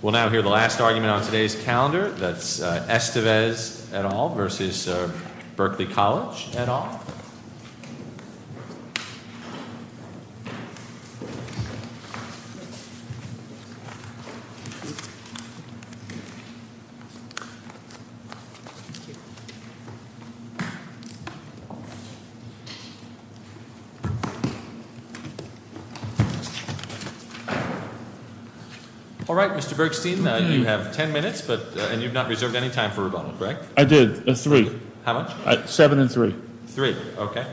We'll now hear the last argument on today's calendar, that's Estevez et al. v. Berkeley College et al. All right, Mr. Bergstein, you have 10 minutes, and you've not reserved any time for rebuttal, correct? I did, three. How much? Seven and three. Three, okay.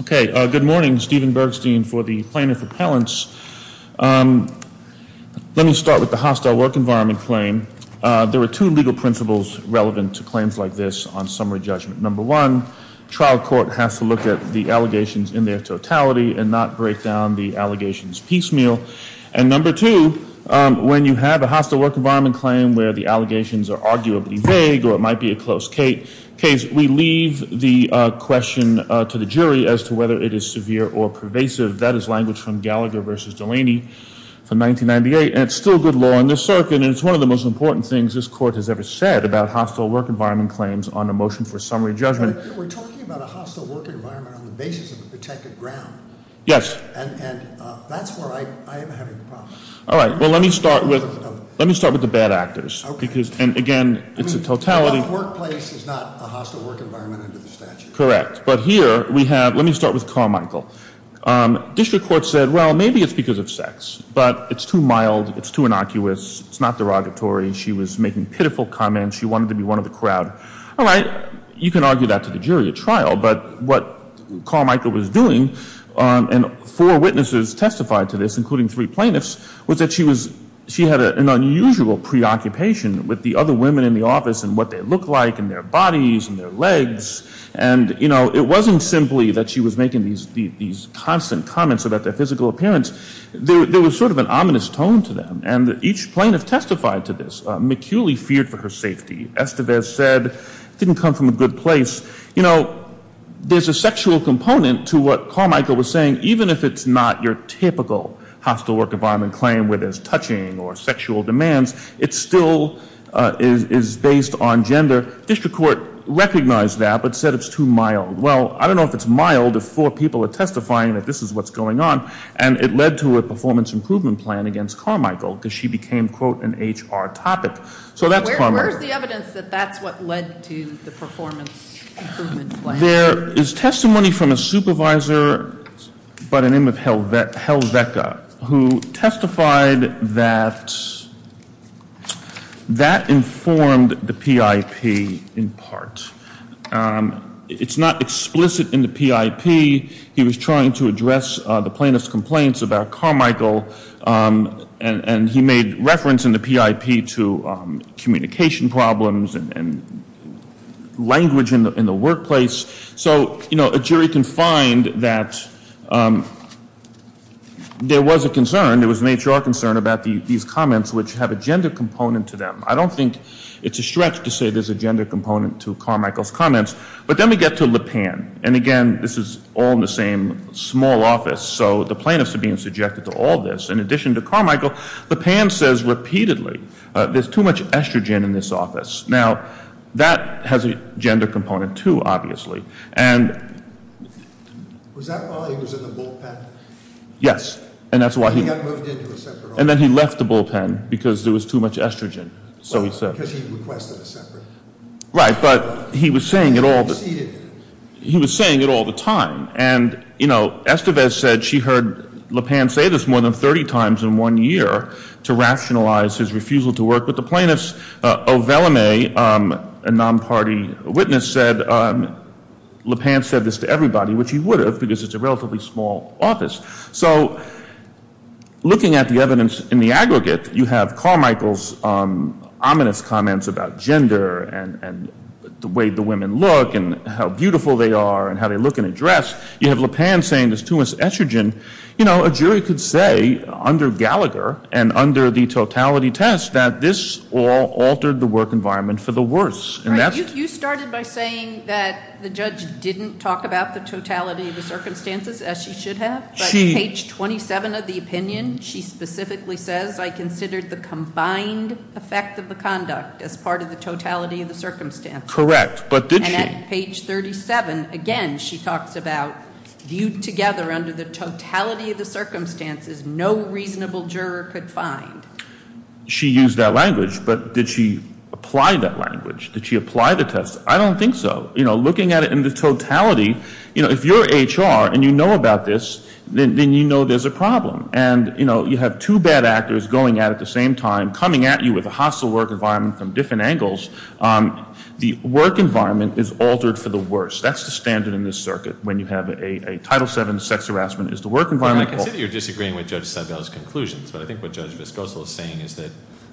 Okay, good morning. Stephen Bergstein for the plaintiff appellants. Let me start with the hostile work environment claim. There are two legal principles relevant to claims like this on summary judgment. Number one, trial court has to look at the allegations in their totality and not break down the allegations piecemeal. And number two, when you have a hostile work environment claim where the allegations are arguably vague or it might be a close case, we leave the question to the jury as to whether it is severe or pervasive. That is language from Gallagher v. Delaney from 1998, and it's still good law in this circuit, and it's one of the most important things this court has ever said about hostile work environment claims on a motion for summary judgment. We're talking about a hostile work environment on the basis of a protected ground. Yes. And that's where I am having problems. All right, well, let me start with the bad actors. Okay. And again, it's a totality. The workplace is not a hostile work environment under the statute. Correct. But here we have ‑‑ let me start with Carmichael. District court said, well, maybe it's because of sex, but it's too mild, it's too innocuous, it's not derogatory. She was making pitiful comments. She wanted to be one of the crowd. All right, you can argue that to the jury at trial, but what Carmichael was doing, and four witnesses testified to this, including three plaintiffs, was that she had an unusual preoccupation with the other women in the office and what they looked like and their bodies and their legs. And, you know, it wasn't simply that she was making these constant comments about their physical appearance. There was sort of an ominous tone to them, and each plaintiff testified to this. McEwley feared for her safety. Estevez said it didn't come from a good place. You know, there's a sexual component to what Carmichael was saying, and even if it's not your typical hostile work environment claim where there's touching or sexual demands, it still is based on gender. District court recognized that but said it's too mild. Well, I don't know if it's mild if four people are testifying that this is what's going on, and it led to a performance improvement plan against Carmichael because she became, quote, an HR topic. So that's Carmichael. Where's the evidence that that's what led to the performance improvement plan? There is testimony from a supervisor by the name of Helveka who testified that that informed the PIP in part. It's not explicit in the PIP. He was trying to address the plaintiff's complaints about Carmichael, and he made reference in the PIP to communication problems and language in the workplace. So, you know, a jury can find that there was a concern, there was an HR concern about these comments which have a gender component to them. I don't think it's a stretch to say there's a gender component to Carmichael's comments. But then we get to Lipan, and again, this is all in the same small office, so the plaintiffs are being subjected to all this. In addition to Carmichael, Lipan says repeatedly there's too much estrogen in this office. Now, that has a gender component, too, obviously. Was that while he was in the bullpen? Yes. He got moved into a separate office. And then he left the bullpen because there was too much estrogen, so he said. Because he requested a separate office. Right, but he was saying it all the time. And, you know, Estevez said she heard Lipan say this more than 30 times in one year to rationalize his refusal to work with the plaintiffs. Oveleme, a non-party witness, said Lipan said this to everybody, which he would have because it's a relatively small office. So looking at the evidence in the aggregate, you have Carmichael's ominous comments about gender and the way the women look and how beautiful they are and how they look in a dress. You have Lipan saying there's too much estrogen. You know, a jury could say under Gallagher and under the totality test that this all altered the work environment for the worse. Right. You started by saying that the judge didn't talk about the totality of the circumstances, as she should have, but page 27 of the opinion she specifically says, I considered the combined effect of the conduct as part of the totality of the circumstances. Correct, but did she? And at page 37, again, she talks about viewed together under the totality of the circumstances, no reasonable juror could find. She used that language, but did she apply that language? Did she apply the test? I don't think so. You know, looking at it in the totality, you know, if you're HR and you know about this, then you know there's a problem. And, you know, you have two bad actors going at it at the same time, coming at you with a hostile work environment from different angles. The work environment is altered for the worse. That's the standard in this circuit when you have a Title VII sex harassment is the work environment. I consider you're disagreeing with Judge Sebel's conclusions, but I think what Judge Viscoso is saying is that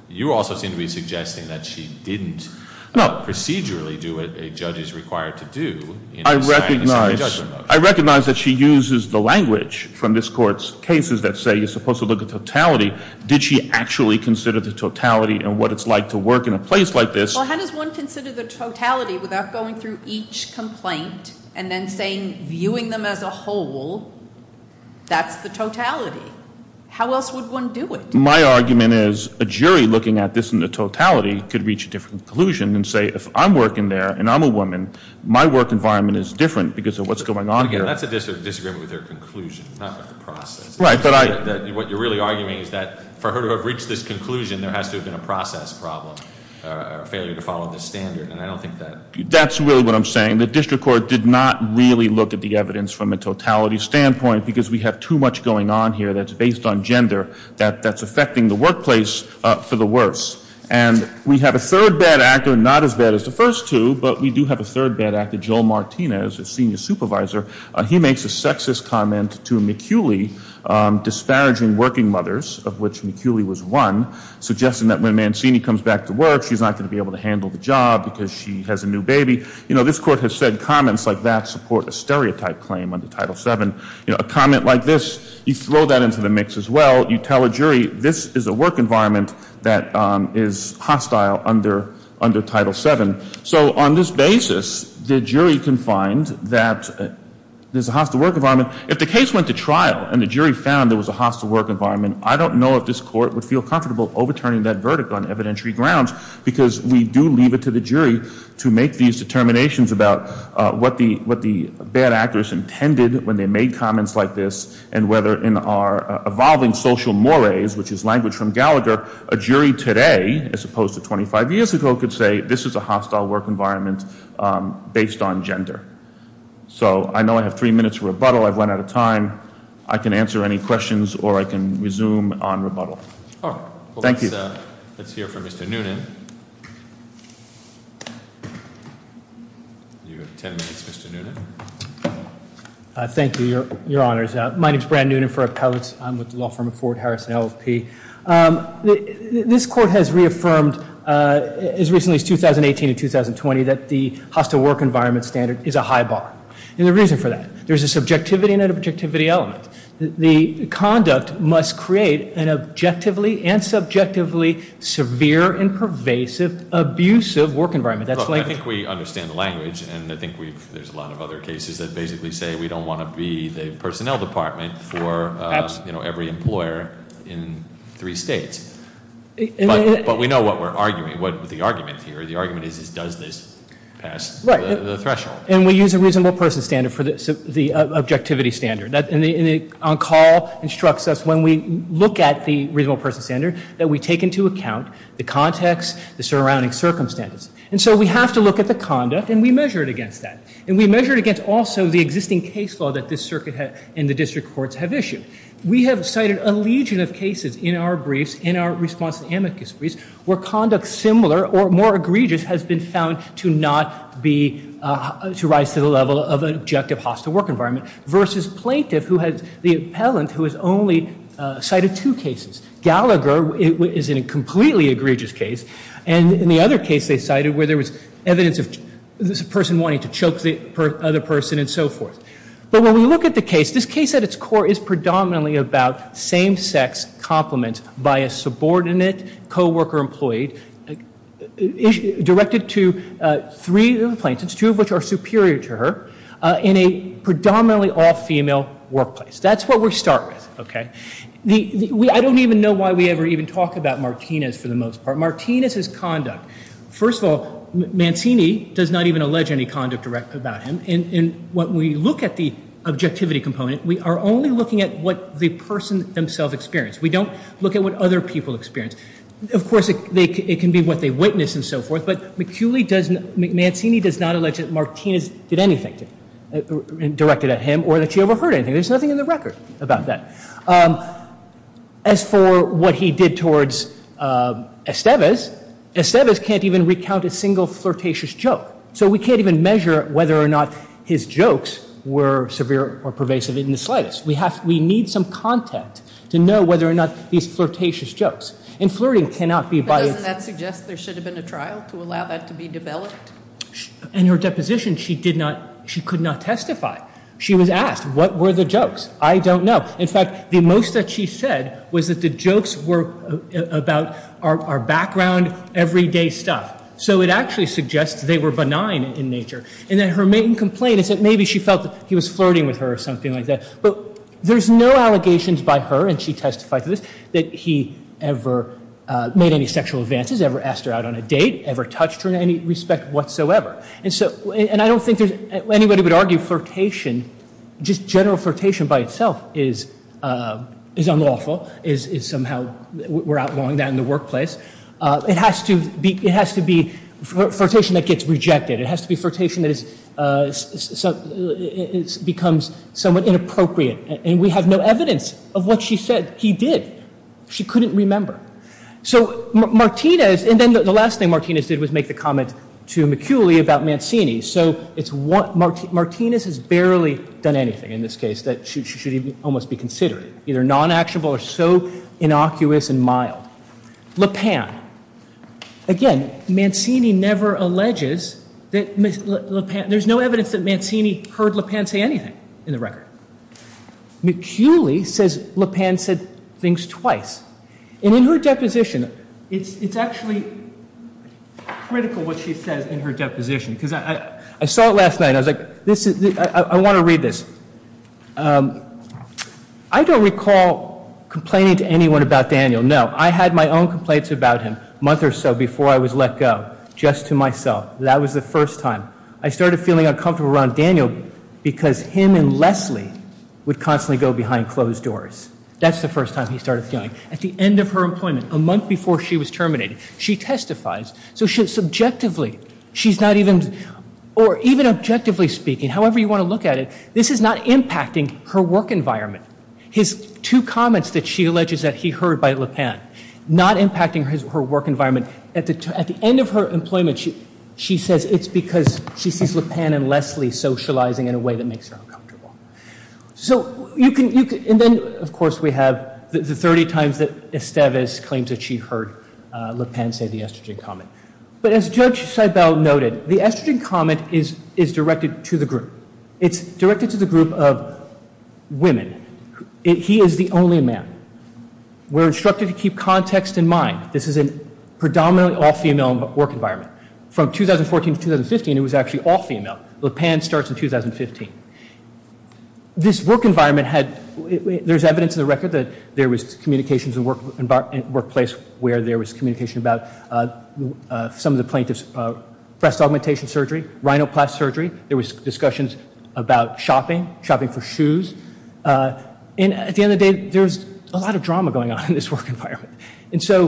you also seem to be suggesting that she didn't procedurally do what a judge is required to do. I recognize that she uses the language from this Court's cases that say you're supposed to look at totality. Did she actually consider the totality and what it's like to work in a place like this? Well, how does one consider the totality without going through each complaint and then saying viewing them as a whole, that's the totality? How else would one do it? My argument is a jury looking at this in the totality could reach a different conclusion and say if I'm working there and I'm a woman, my work environment is different because of what's going on here. Again, that's a disagreement with her conclusion, not with the process. Right. What you're really arguing is that for her to have reached this conclusion, there has to have been a process problem or failure to follow this standard, and I don't think that. That's really what I'm saying. The district court did not really look at the evidence from a totality standpoint because we have too much going on here that's based on gender that's affecting the workplace for the worse. And we have a third bad actor, not as bad as the first two, but we do have a third bad actor, Joel Martinez, a senior supervisor. He makes a sexist comment to McEwley disparaging working mothers, of which McEwley was one, suggesting that when Mancini comes back to work, she's not going to be able to handle the job because she has a new baby. This court has said comments like that support a stereotype claim under Title VII. A comment like this, you throw that into the mix as well. You tell a jury this is a work environment that is hostile under Title VII. So on this basis, the jury can find that there's a hostile work environment. If the case went to trial and the jury found there was a hostile work environment, I don't know if this court would feel comfortable overturning that verdict on evidentiary grounds because we do leave it to the jury to make these determinations about what the bad actors intended when they made comments like this and whether in our evolving social mores, which is language from Gallagher, a jury today as opposed to 25 years ago could say this is a hostile work environment based on gender. So I know I have three minutes for rebuttal. I've run out of time. I can answer any questions or I can resume on rebuttal. Thank you. Let's hear from Mr. Noonan. You have ten minutes, Mr. Noonan. Thank you, Your Honors. My name is Brad Noonan for Appellate. I'm with the law firm of Ford, Harris, and LLP. This court has reaffirmed as recently as 2018 and 2020 that the hostile work environment standard is a high bar. And the reason for that, there's a subjectivity and an objectivity element. The conduct must create an objectively and subjectively severe and pervasive abusive work environment. I think we understand the language and I think there's a lot of other cases that basically say we don't want to be the personnel department for every employer in three states. But we know what we're arguing, what the argument is here. The argument is does this pass the threshold. And we use a reasonable person standard for the objectivity standard. On call instructs us when we look at the reasonable person standard that we take into account the context, the surrounding circumstances. And so we have to look at the conduct and we measure it against that. We have cited a legion of cases in our briefs, in our response to the amicus briefs, where conduct similar or more egregious has been found to not be, to rise to the level of an objective hostile work environment versus plaintiff who has, the appellant who has only cited two cases. Gallagher is in a completely egregious case. And in the other case they cited where there was evidence of this person wanting to choke the other person and so forth. But when we look at the case, this case at its core is predominantly about same-sex compliments by a subordinate co-worker employee directed to three plaintiffs, two of which are superior to her, in a predominantly all-female workplace. That's what we start with. I don't even know why we ever even talk about Martinez for the most part. Martinez's conduct, first of all, Mancini does not even allege any conduct about him. In what we look at the objectivity component, we are only looking at what the person themselves experienced. We don't look at what other people experienced. Of course, it can be what they witnessed and so forth. But McCulley does not, Mancini does not allege that Martinez did anything directed at him or that she overheard anything. There's nothing in the record about that. As for what he did towards Estevez, Estevez can't even recount a single flirtatious joke. So we can't even measure whether or not his jokes were severe or pervasive in the slightest. We need some content to know whether or not these flirtatious jokes. And flirting cannot be biased. But doesn't that suggest there should have been a trial to allow that to be developed? In her deposition, she did not, she could not testify. She was asked what were the jokes. I don't know. In fact, the most that she said was that the jokes were about our background, everyday stuff. So it actually suggests they were benign in nature. And then her main complaint is that maybe she felt that he was flirting with her or something like that. But there's no allegations by her, and she testified to this, that he ever made any sexual advances, ever asked her out on a date, ever touched her in any respect whatsoever. And so, and I don't think anybody would argue flirtation, just general flirtation by itself is unlawful, is somehow, we're outlawing that in the workplace. It has to be flirtation that gets rejected. It has to be flirtation that becomes somewhat inappropriate. And we have no evidence of what she said he did. She couldn't remember. So Martinez, and then the last thing Martinez did was make the comment to McCulley about Mancini. So it's what, Martinez has barely done anything in this case that she should almost be considering, either non-actionable or so innocuous and mild. LaPan, again, Mancini never alleges that LaPan, there's no evidence that Mancini heard LaPan say anything in the record. McCulley says LaPan said things twice. And in her deposition, it's actually critical what she says in her deposition, because I saw it last night and I was like, I want to read this. I don't recall complaining to anyone about Daniel, no. I had my own complaints about him a month or so before I was let go, just to myself. That was the first time. I started feeling uncomfortable around Daniel because him and Leslie would constantly go behind closed doors. That's the first time he started feeling. At the end of her employment, a month before she was terminated, she testifies. So subjectively, she's not even, or even objectively speaking, however you want to look at it, this is not impacting her work environment. His two comments that she alleges that he heard by LaPan, not impacting her work environment. At the end of her employment, she says it's because she sees LaPan and Leslie socializing in a way that makes her uncomfortable. So you can, and then, of course, we have the 30 times that Estevez claims that she heard LaPan say the estrogen comment. But as Judge Seibel noted, the estrogen comment is directed to the group. It's directed to the group of women. He is the only man. We're instructed to keep context in mind. This is a predominantly all-female work environment. From 2014 to 2015, it was actually all-female. LaPan starts in 2015. This work environment had, there's evidence in the record that there was communications in the workplace where there was communication about some of the plaintiffs' breast augmentation surgery, rhinoplasty surgery. There was discussions about shopping, shopping for shoes. And at the end of the day, there's a lot of drama going on in this work environment. And so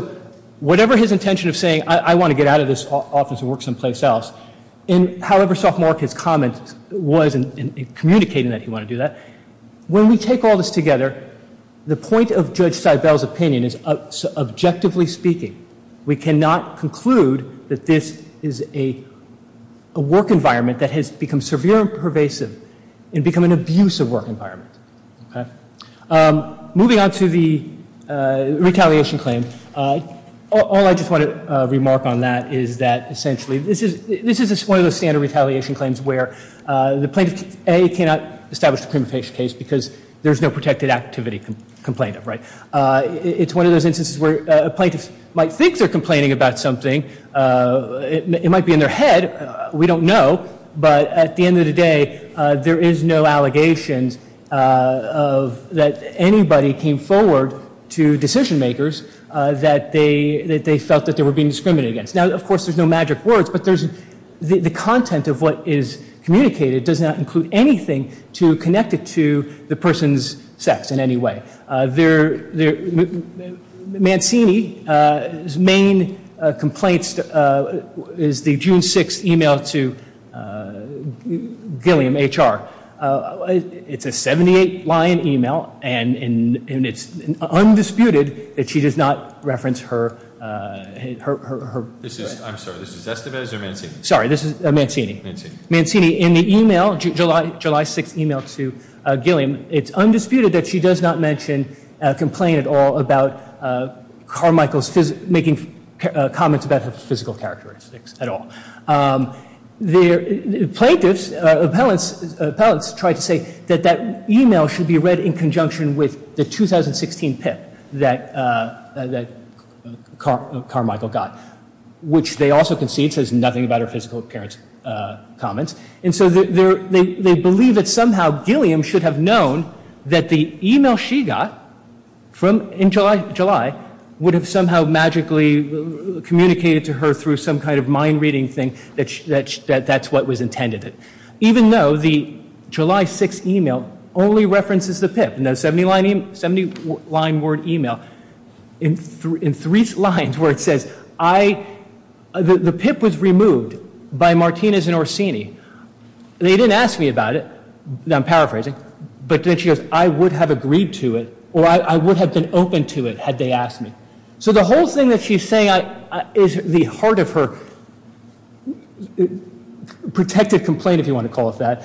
whatever his intention of saying, I want to get out of this office and work someplace else, and however sophomoric his comment was in communicating that he wanted to do that, when we take all this together, the point of Judge Seibel's opinion is, objectively speaking, we cannot conclude that this is a work environment that has become severe and pervasive and become an abusive work environment. Moving on to the retaliation claim, all I just want to remark on that is that, essentially, this is one of those standard retaliation claims where the plaintiff, A, cannot establish a criminal case because there's no protected activity complained of. It's one of those instances where a plaintiff might think they're complaining about something. It might be in their head. We don't know. But at the end of the day, there is no allegations that anybody came forward to decision makers that they felt that they were being discriminated against. Now, of course, there's no magic words, but the content of what is communicated does not include anything to connect it to the person's sex in any way. Mancini's main complaints is the June 6th email to Gilliam, H.R. It's a 78-line email, and it's undisputed that she does not reference her. I'm sorry, this is Estevez or Mancini? Sorry, this is Mancini. Mancini. In the email, July 6th email to Gilliam, it's undisputed that she does not mention or complain at all about Carmichael's making comments about her physical characteristics at all. The plaintiffs' appellants tried to say that that email should be read in conjunction with the 2016 PIP that Carmichael got, which they also concede says nothing about her physical appearance comments. And so they believe that somehow Gilliam should have known that the email she got in July would have somehow magically communicated to her through some kind of mind-reading thing that that's what was intended. Even though the July 6th email only references the PIP, 70-line word email, in three lines where it says, the PIP was removed by Martinez and Orsini. They didn't ask me about it. I'm paraphrasing. But then she goes, I would have agreed to it, or I would have been open to it had they asked me. So the whole thing that she's saying is the heart of her protective complaint, if you want to call it that,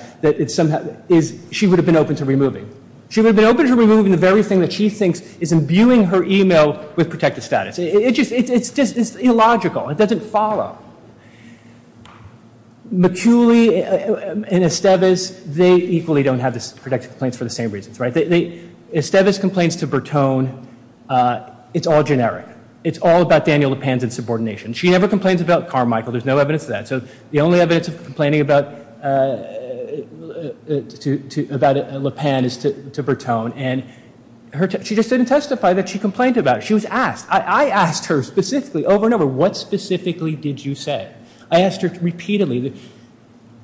is she would have been open to removing. She would have been open to removing the very thing that she thinks is imbuing her email with protective status. It's just illogical. It doesn't follow. McCulley and Esteves, they equally don't have protective complaints for the same reasons. Esteves complains to Bertone. It's all generic. It's all about Daniel LaPanza and subordination. She never complains about Carmichael. There's no evidence of that. So the only evidence of complaining about LaPan is to Bertone. And she just didn't testify that she complained about it. She was asked. I asked her specifically, over and over, what specifically did you say? I asked her repeatedly.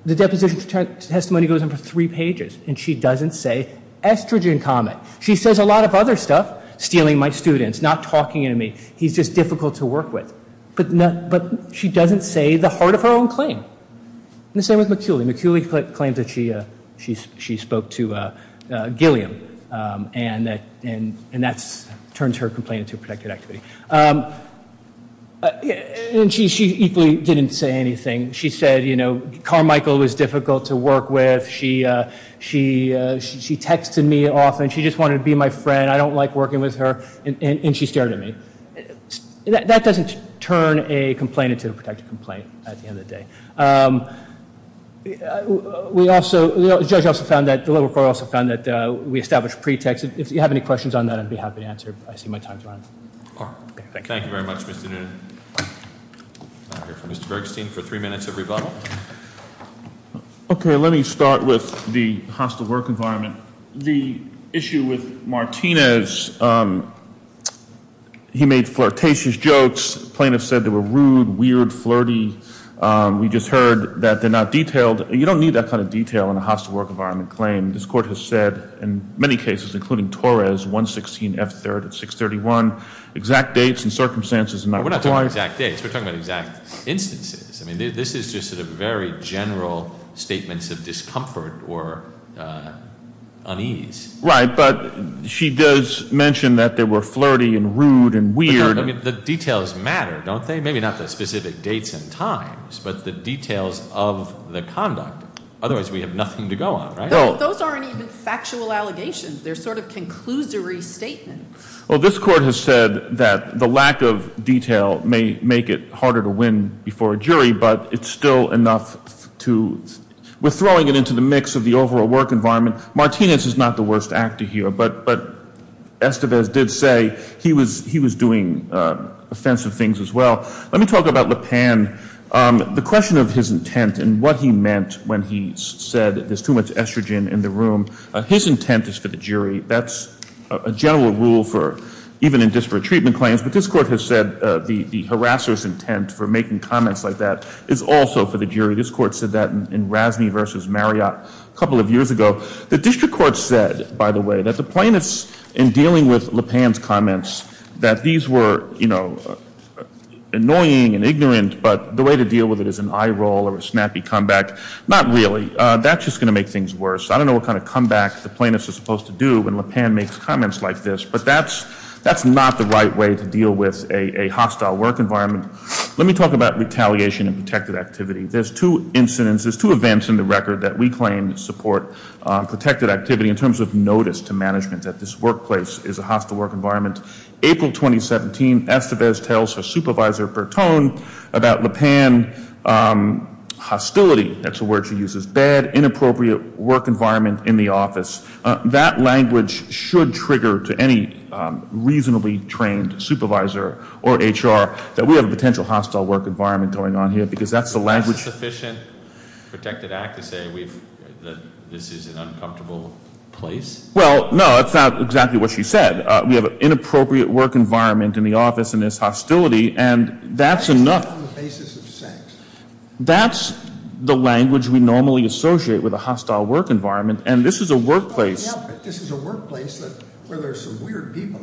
The deposition testimony goes on for three pages, and she doesn't say estrogen comment. She says a lot of other stuff, stealing my students, not talking to me. He's just difficult to work with. But she doesn't say the heart of her own claim. The same with McCulley. McCulley claims that she spoke to Gilliam, and that turns her complaint into a protective activity. And she equally didn't say anything. She said, you know, Carmichael was difficult to work with. She texted me often. She just wanted to be my friend. I don't like working with her. And she stared at me. That doesn't turn a complaint into a protective complaint at the end of the day. We also, the judge also found that, the liberal court also found that we established pretexts. If you have any questions on that, I'd be happy to answer. I see my time's running. Thank you very much, Mr. Noonan. We'll hear from Mr. Bergstein for three minutes of rebuttal. Okay, let me start with the hostile work environment. The issue with Martinez, he made flirtatious jokes. Plaintiffs said they were rude, weird, flirty. We just heard that they're not detailed. You don't need that kind of detail in a hostile work environment claim. This court has said, in many cases, including Torres, 116F3 at 631, exact dates and circumstances. We're not talking about exact dates. We're talking about exact instances. I mean, this is just sort of very general statements of discomfort or unease. Right, but she does mention that they were flirty and rude and weird. The details matter, don't they? Maybe not the specific dates and times, but the details of the conduct. Otherwise, we have nothing to go on, right? Those aren't even factual allegations. They're sort of conclusory statements. Well, this court has said that the lack of detail may make it harder to win before a jury, but it's still enough to – we're throwing it into the mix of the overall work environment. Martinez is not the worst actor here, but Estevez did say he was doing offensive things as well. Let me talk about Le Pan. The question of his intent and what he meant when he said there's too much estrogen in the room, his intent is for the jury. That's a general rule for even in disparate treatment claims, but this court has said the harasser's intent for making comments like that is also for the jury. This court said that in Razney v. Marriott a couple of years ago. The district court said, by the way, that the plaintiffs in dealing with Le Pan's comments, that these were, you know, annoying and ignorant, but the way to deal with it is an eye roll or a snappy comeback. Not really. That's just going to make things worse. I don't know what kind of comeback the plaintiffs are supposed to do when Le Pan makes comments like this, but that's not the right way to deal with a hostile work environment. Let me talk about retaliation and protected activity. There's two incidents, there's two events in the record that we claim support protected activity in terms of notice to management that this workplace is a hostile work environment. April 2017, Estevez tells her supervisor, Bertone, about Le Pan hostility. That's a word she uses. Bad, inappropriate work environment in the office. That language should trigger to any reasonably trained supervisor or HR that we have a potential hostile work environment going on here because that's the language. Is that a sufficient protected act to say that this is an uncomfortable place? Well, no, that's not exactly what she said. We have an inappropriate work environment in the office and there's hostility, and that's enough. That's not on the basis of sex. That's the language we normally associate with a hostile work environment, and this is a workplace. This is a workplace where there's some weird people.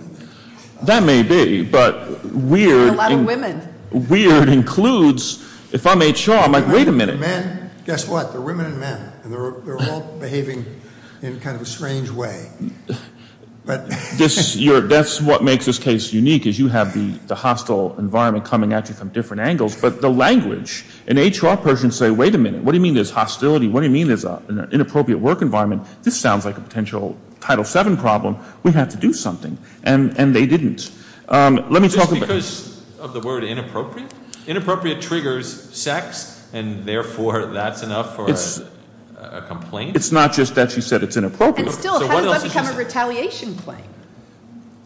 That may be, but weird. There are a lot of women. Weird includes, if I'm HR, I'm like, wait a minute. Men, guess what, there are women and men, and they're all behaving in kind of a strange way. That's what makes this case unique is you have the hostile environment coming at you from different angles, but the language, an HR person say, wait a minute, what do you mean there's hostility? What do you mean there's an inappropriate work environment? This sounds like a potential Title VII problem. We have to do something, and they didn't. Just because of the word inappropriate? Inappropriate triggers sex, and therefore that's enough for a complaint? It's not just that she said it's inappropriate. And still, how does that become a retaliation claim?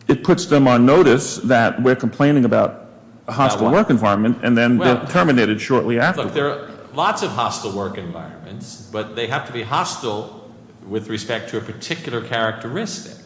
It puts them on notice that we're complaining about a hostile work environment, and then they're terminated shortly after. Look, there are lots of hostile work environments, but they have to be hostile with respect to a particular characteristic.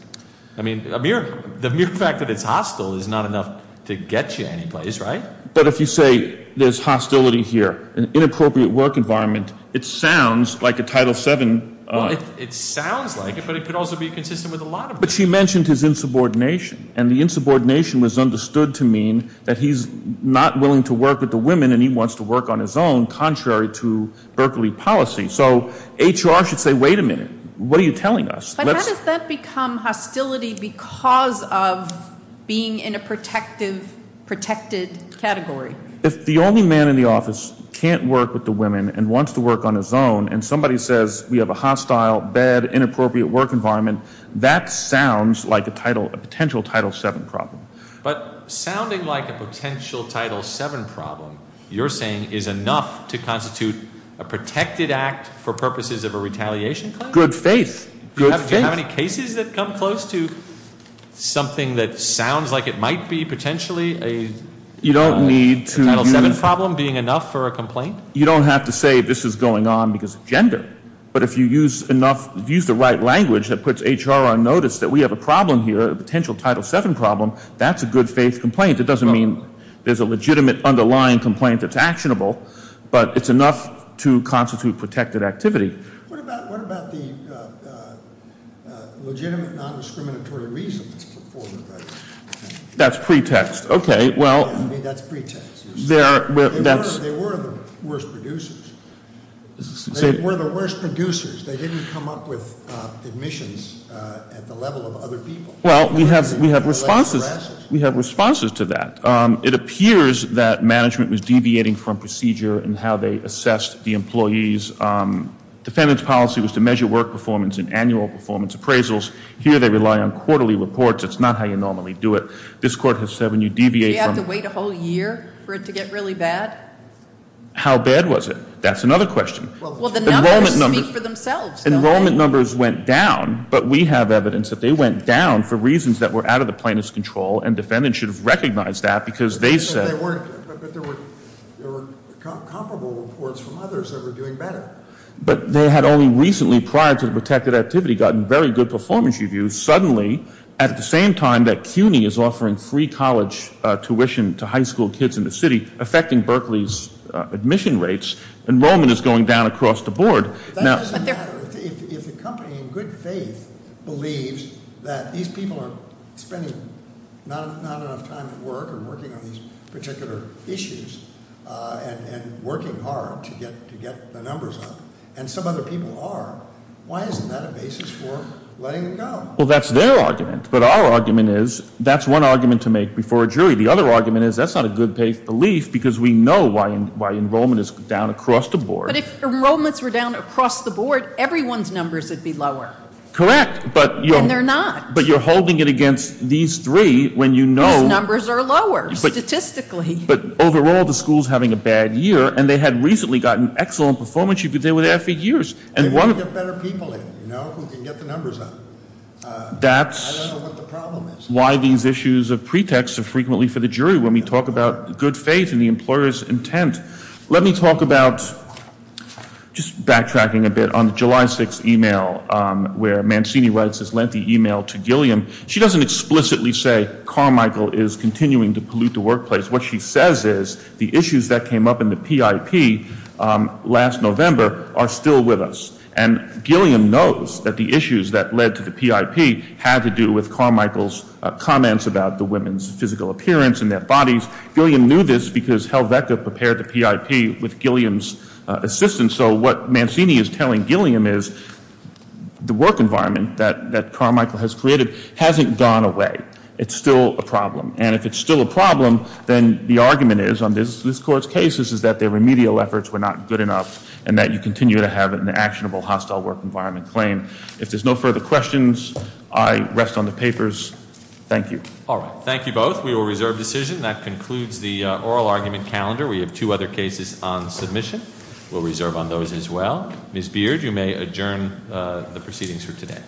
I mean, the mere fact that it's hostile is not enough to get you anyplace, right? But if you say there's hostility here, an inappropriate work environment, it sounds like a Title VII. Well, it sounds like it, but it could also be consistent with a lot of them. But she mentioned his insubordination, and the insubordination was understood to mean that he's not willing to work with the women, and he wants to work on his own, contrary to Berkeley policy. So HR should say, wait a minute, what are you telling us? But how does that become hostility because of being in a protected category? If the only man in the office can't work with the women and wants to work on his own, and somebody says we have a hostile, bad, inappropriate work environment, that sounds like a potential Title VII problem. But sounding like a potential Title VII problem, you're saying is enough to constitute a protected act for purposes of a retaliation claim? Good faith. Do you have any cases that come close to something that sounds like it might be potentially a Title VII problem being enough for a complaint? You don't have to say this is going on because of gender. But if you use the right language that puts HR on notice that we have a problem here, a potential Title VII problem, that's a good faith complaint. It doesn't mean there's a legitimate underlying complaint that's actionable, but it's enough to constitute protected activity. What about the legitimate non-discriminatory reason that's put forward? That's pretext. That's pretext. They were the worst producers. They were the worst producers. They didn't come up with admissions at the level of other people. Well, we have responses to that. It appears that management was deviating from procedure in how they assessed the employees. Defendant's policy was to measure work performance in annual performance appraisals. Here they rely on quarterly reports. That's not how you normally do it. This court has said when you deviate from- Do you have to wait a whole year for it to get really bad? How bad was it? That's another question. Well, the numbers speak for themselves. Enrollment numbers went down, but we have evidence that they went down for reasons that were out of the plaintiff's control, and defendants should have recognized that because they said- But there were comparable reports from others that were doing better. But they had only recently, prior to the protected activity, gotten very good performance reviews. And suddenly, at the same time that CUNY is offering free college tuition to high school kids in the city, affecting Berkeley's admission rates, enrollment is going down across the board. That doesn't matter. If a company in good faith believes that these people are spending not enough time at work and working on these particular issues and working hard to get the numbers up, and some other people are, why isn't that a basis for letting them go? Well, that's their argument. But our argument is that's one argument to make before a jury. The other argument is that's not a good faith belief because we know why enrollment is down across the board. But if enrollments were down across the board, everyone's numbers would be lower. Correct. When they're not. But you're holding it against these three when you know- These numbers are lower, statistically. But overall, the school's having a bad year, and they had recently gotten excellent performance reviews. They were there for years. They want to get better people in, you know, who can get the numbers up. I don't know what the problem is. That's why these issues of pretext are frequently for the jury when we talk about good faith and the employer's intent. Let me talk about, just backtracking a bit, on the July 6th email where Mancini writes this lengthy email to Gilliam. She doesn't explicitly say Carmichael is continuing to pollute the workplace. What she says is the issues that came up in the PIP last November are still with us. And Gilliam knows that the issues that led to the PIP had to do with Carmichael's comments about the women's physical appearance and their bodies. Gilliam knew this because Helvetica prepared the PIP with Gilliam's assistance. So what Mancini is telling Gilliam is the work environment that Carmichael has created hasn't gone away. It's still a problem. And if it's still a problem, then the argument is, on this court's case, is that their remedial efforts were not good enough and that you continue to have an actionable hostile work environment claim. If there's no further questions, I rest on the papers. Thank you. All right. Thank you both. We will reserve decision. That concludes the oral argument calendar. We have two other cases on submission. We'll reserve on those as well. Ms. Beard, you may adjourn the proceedings for today.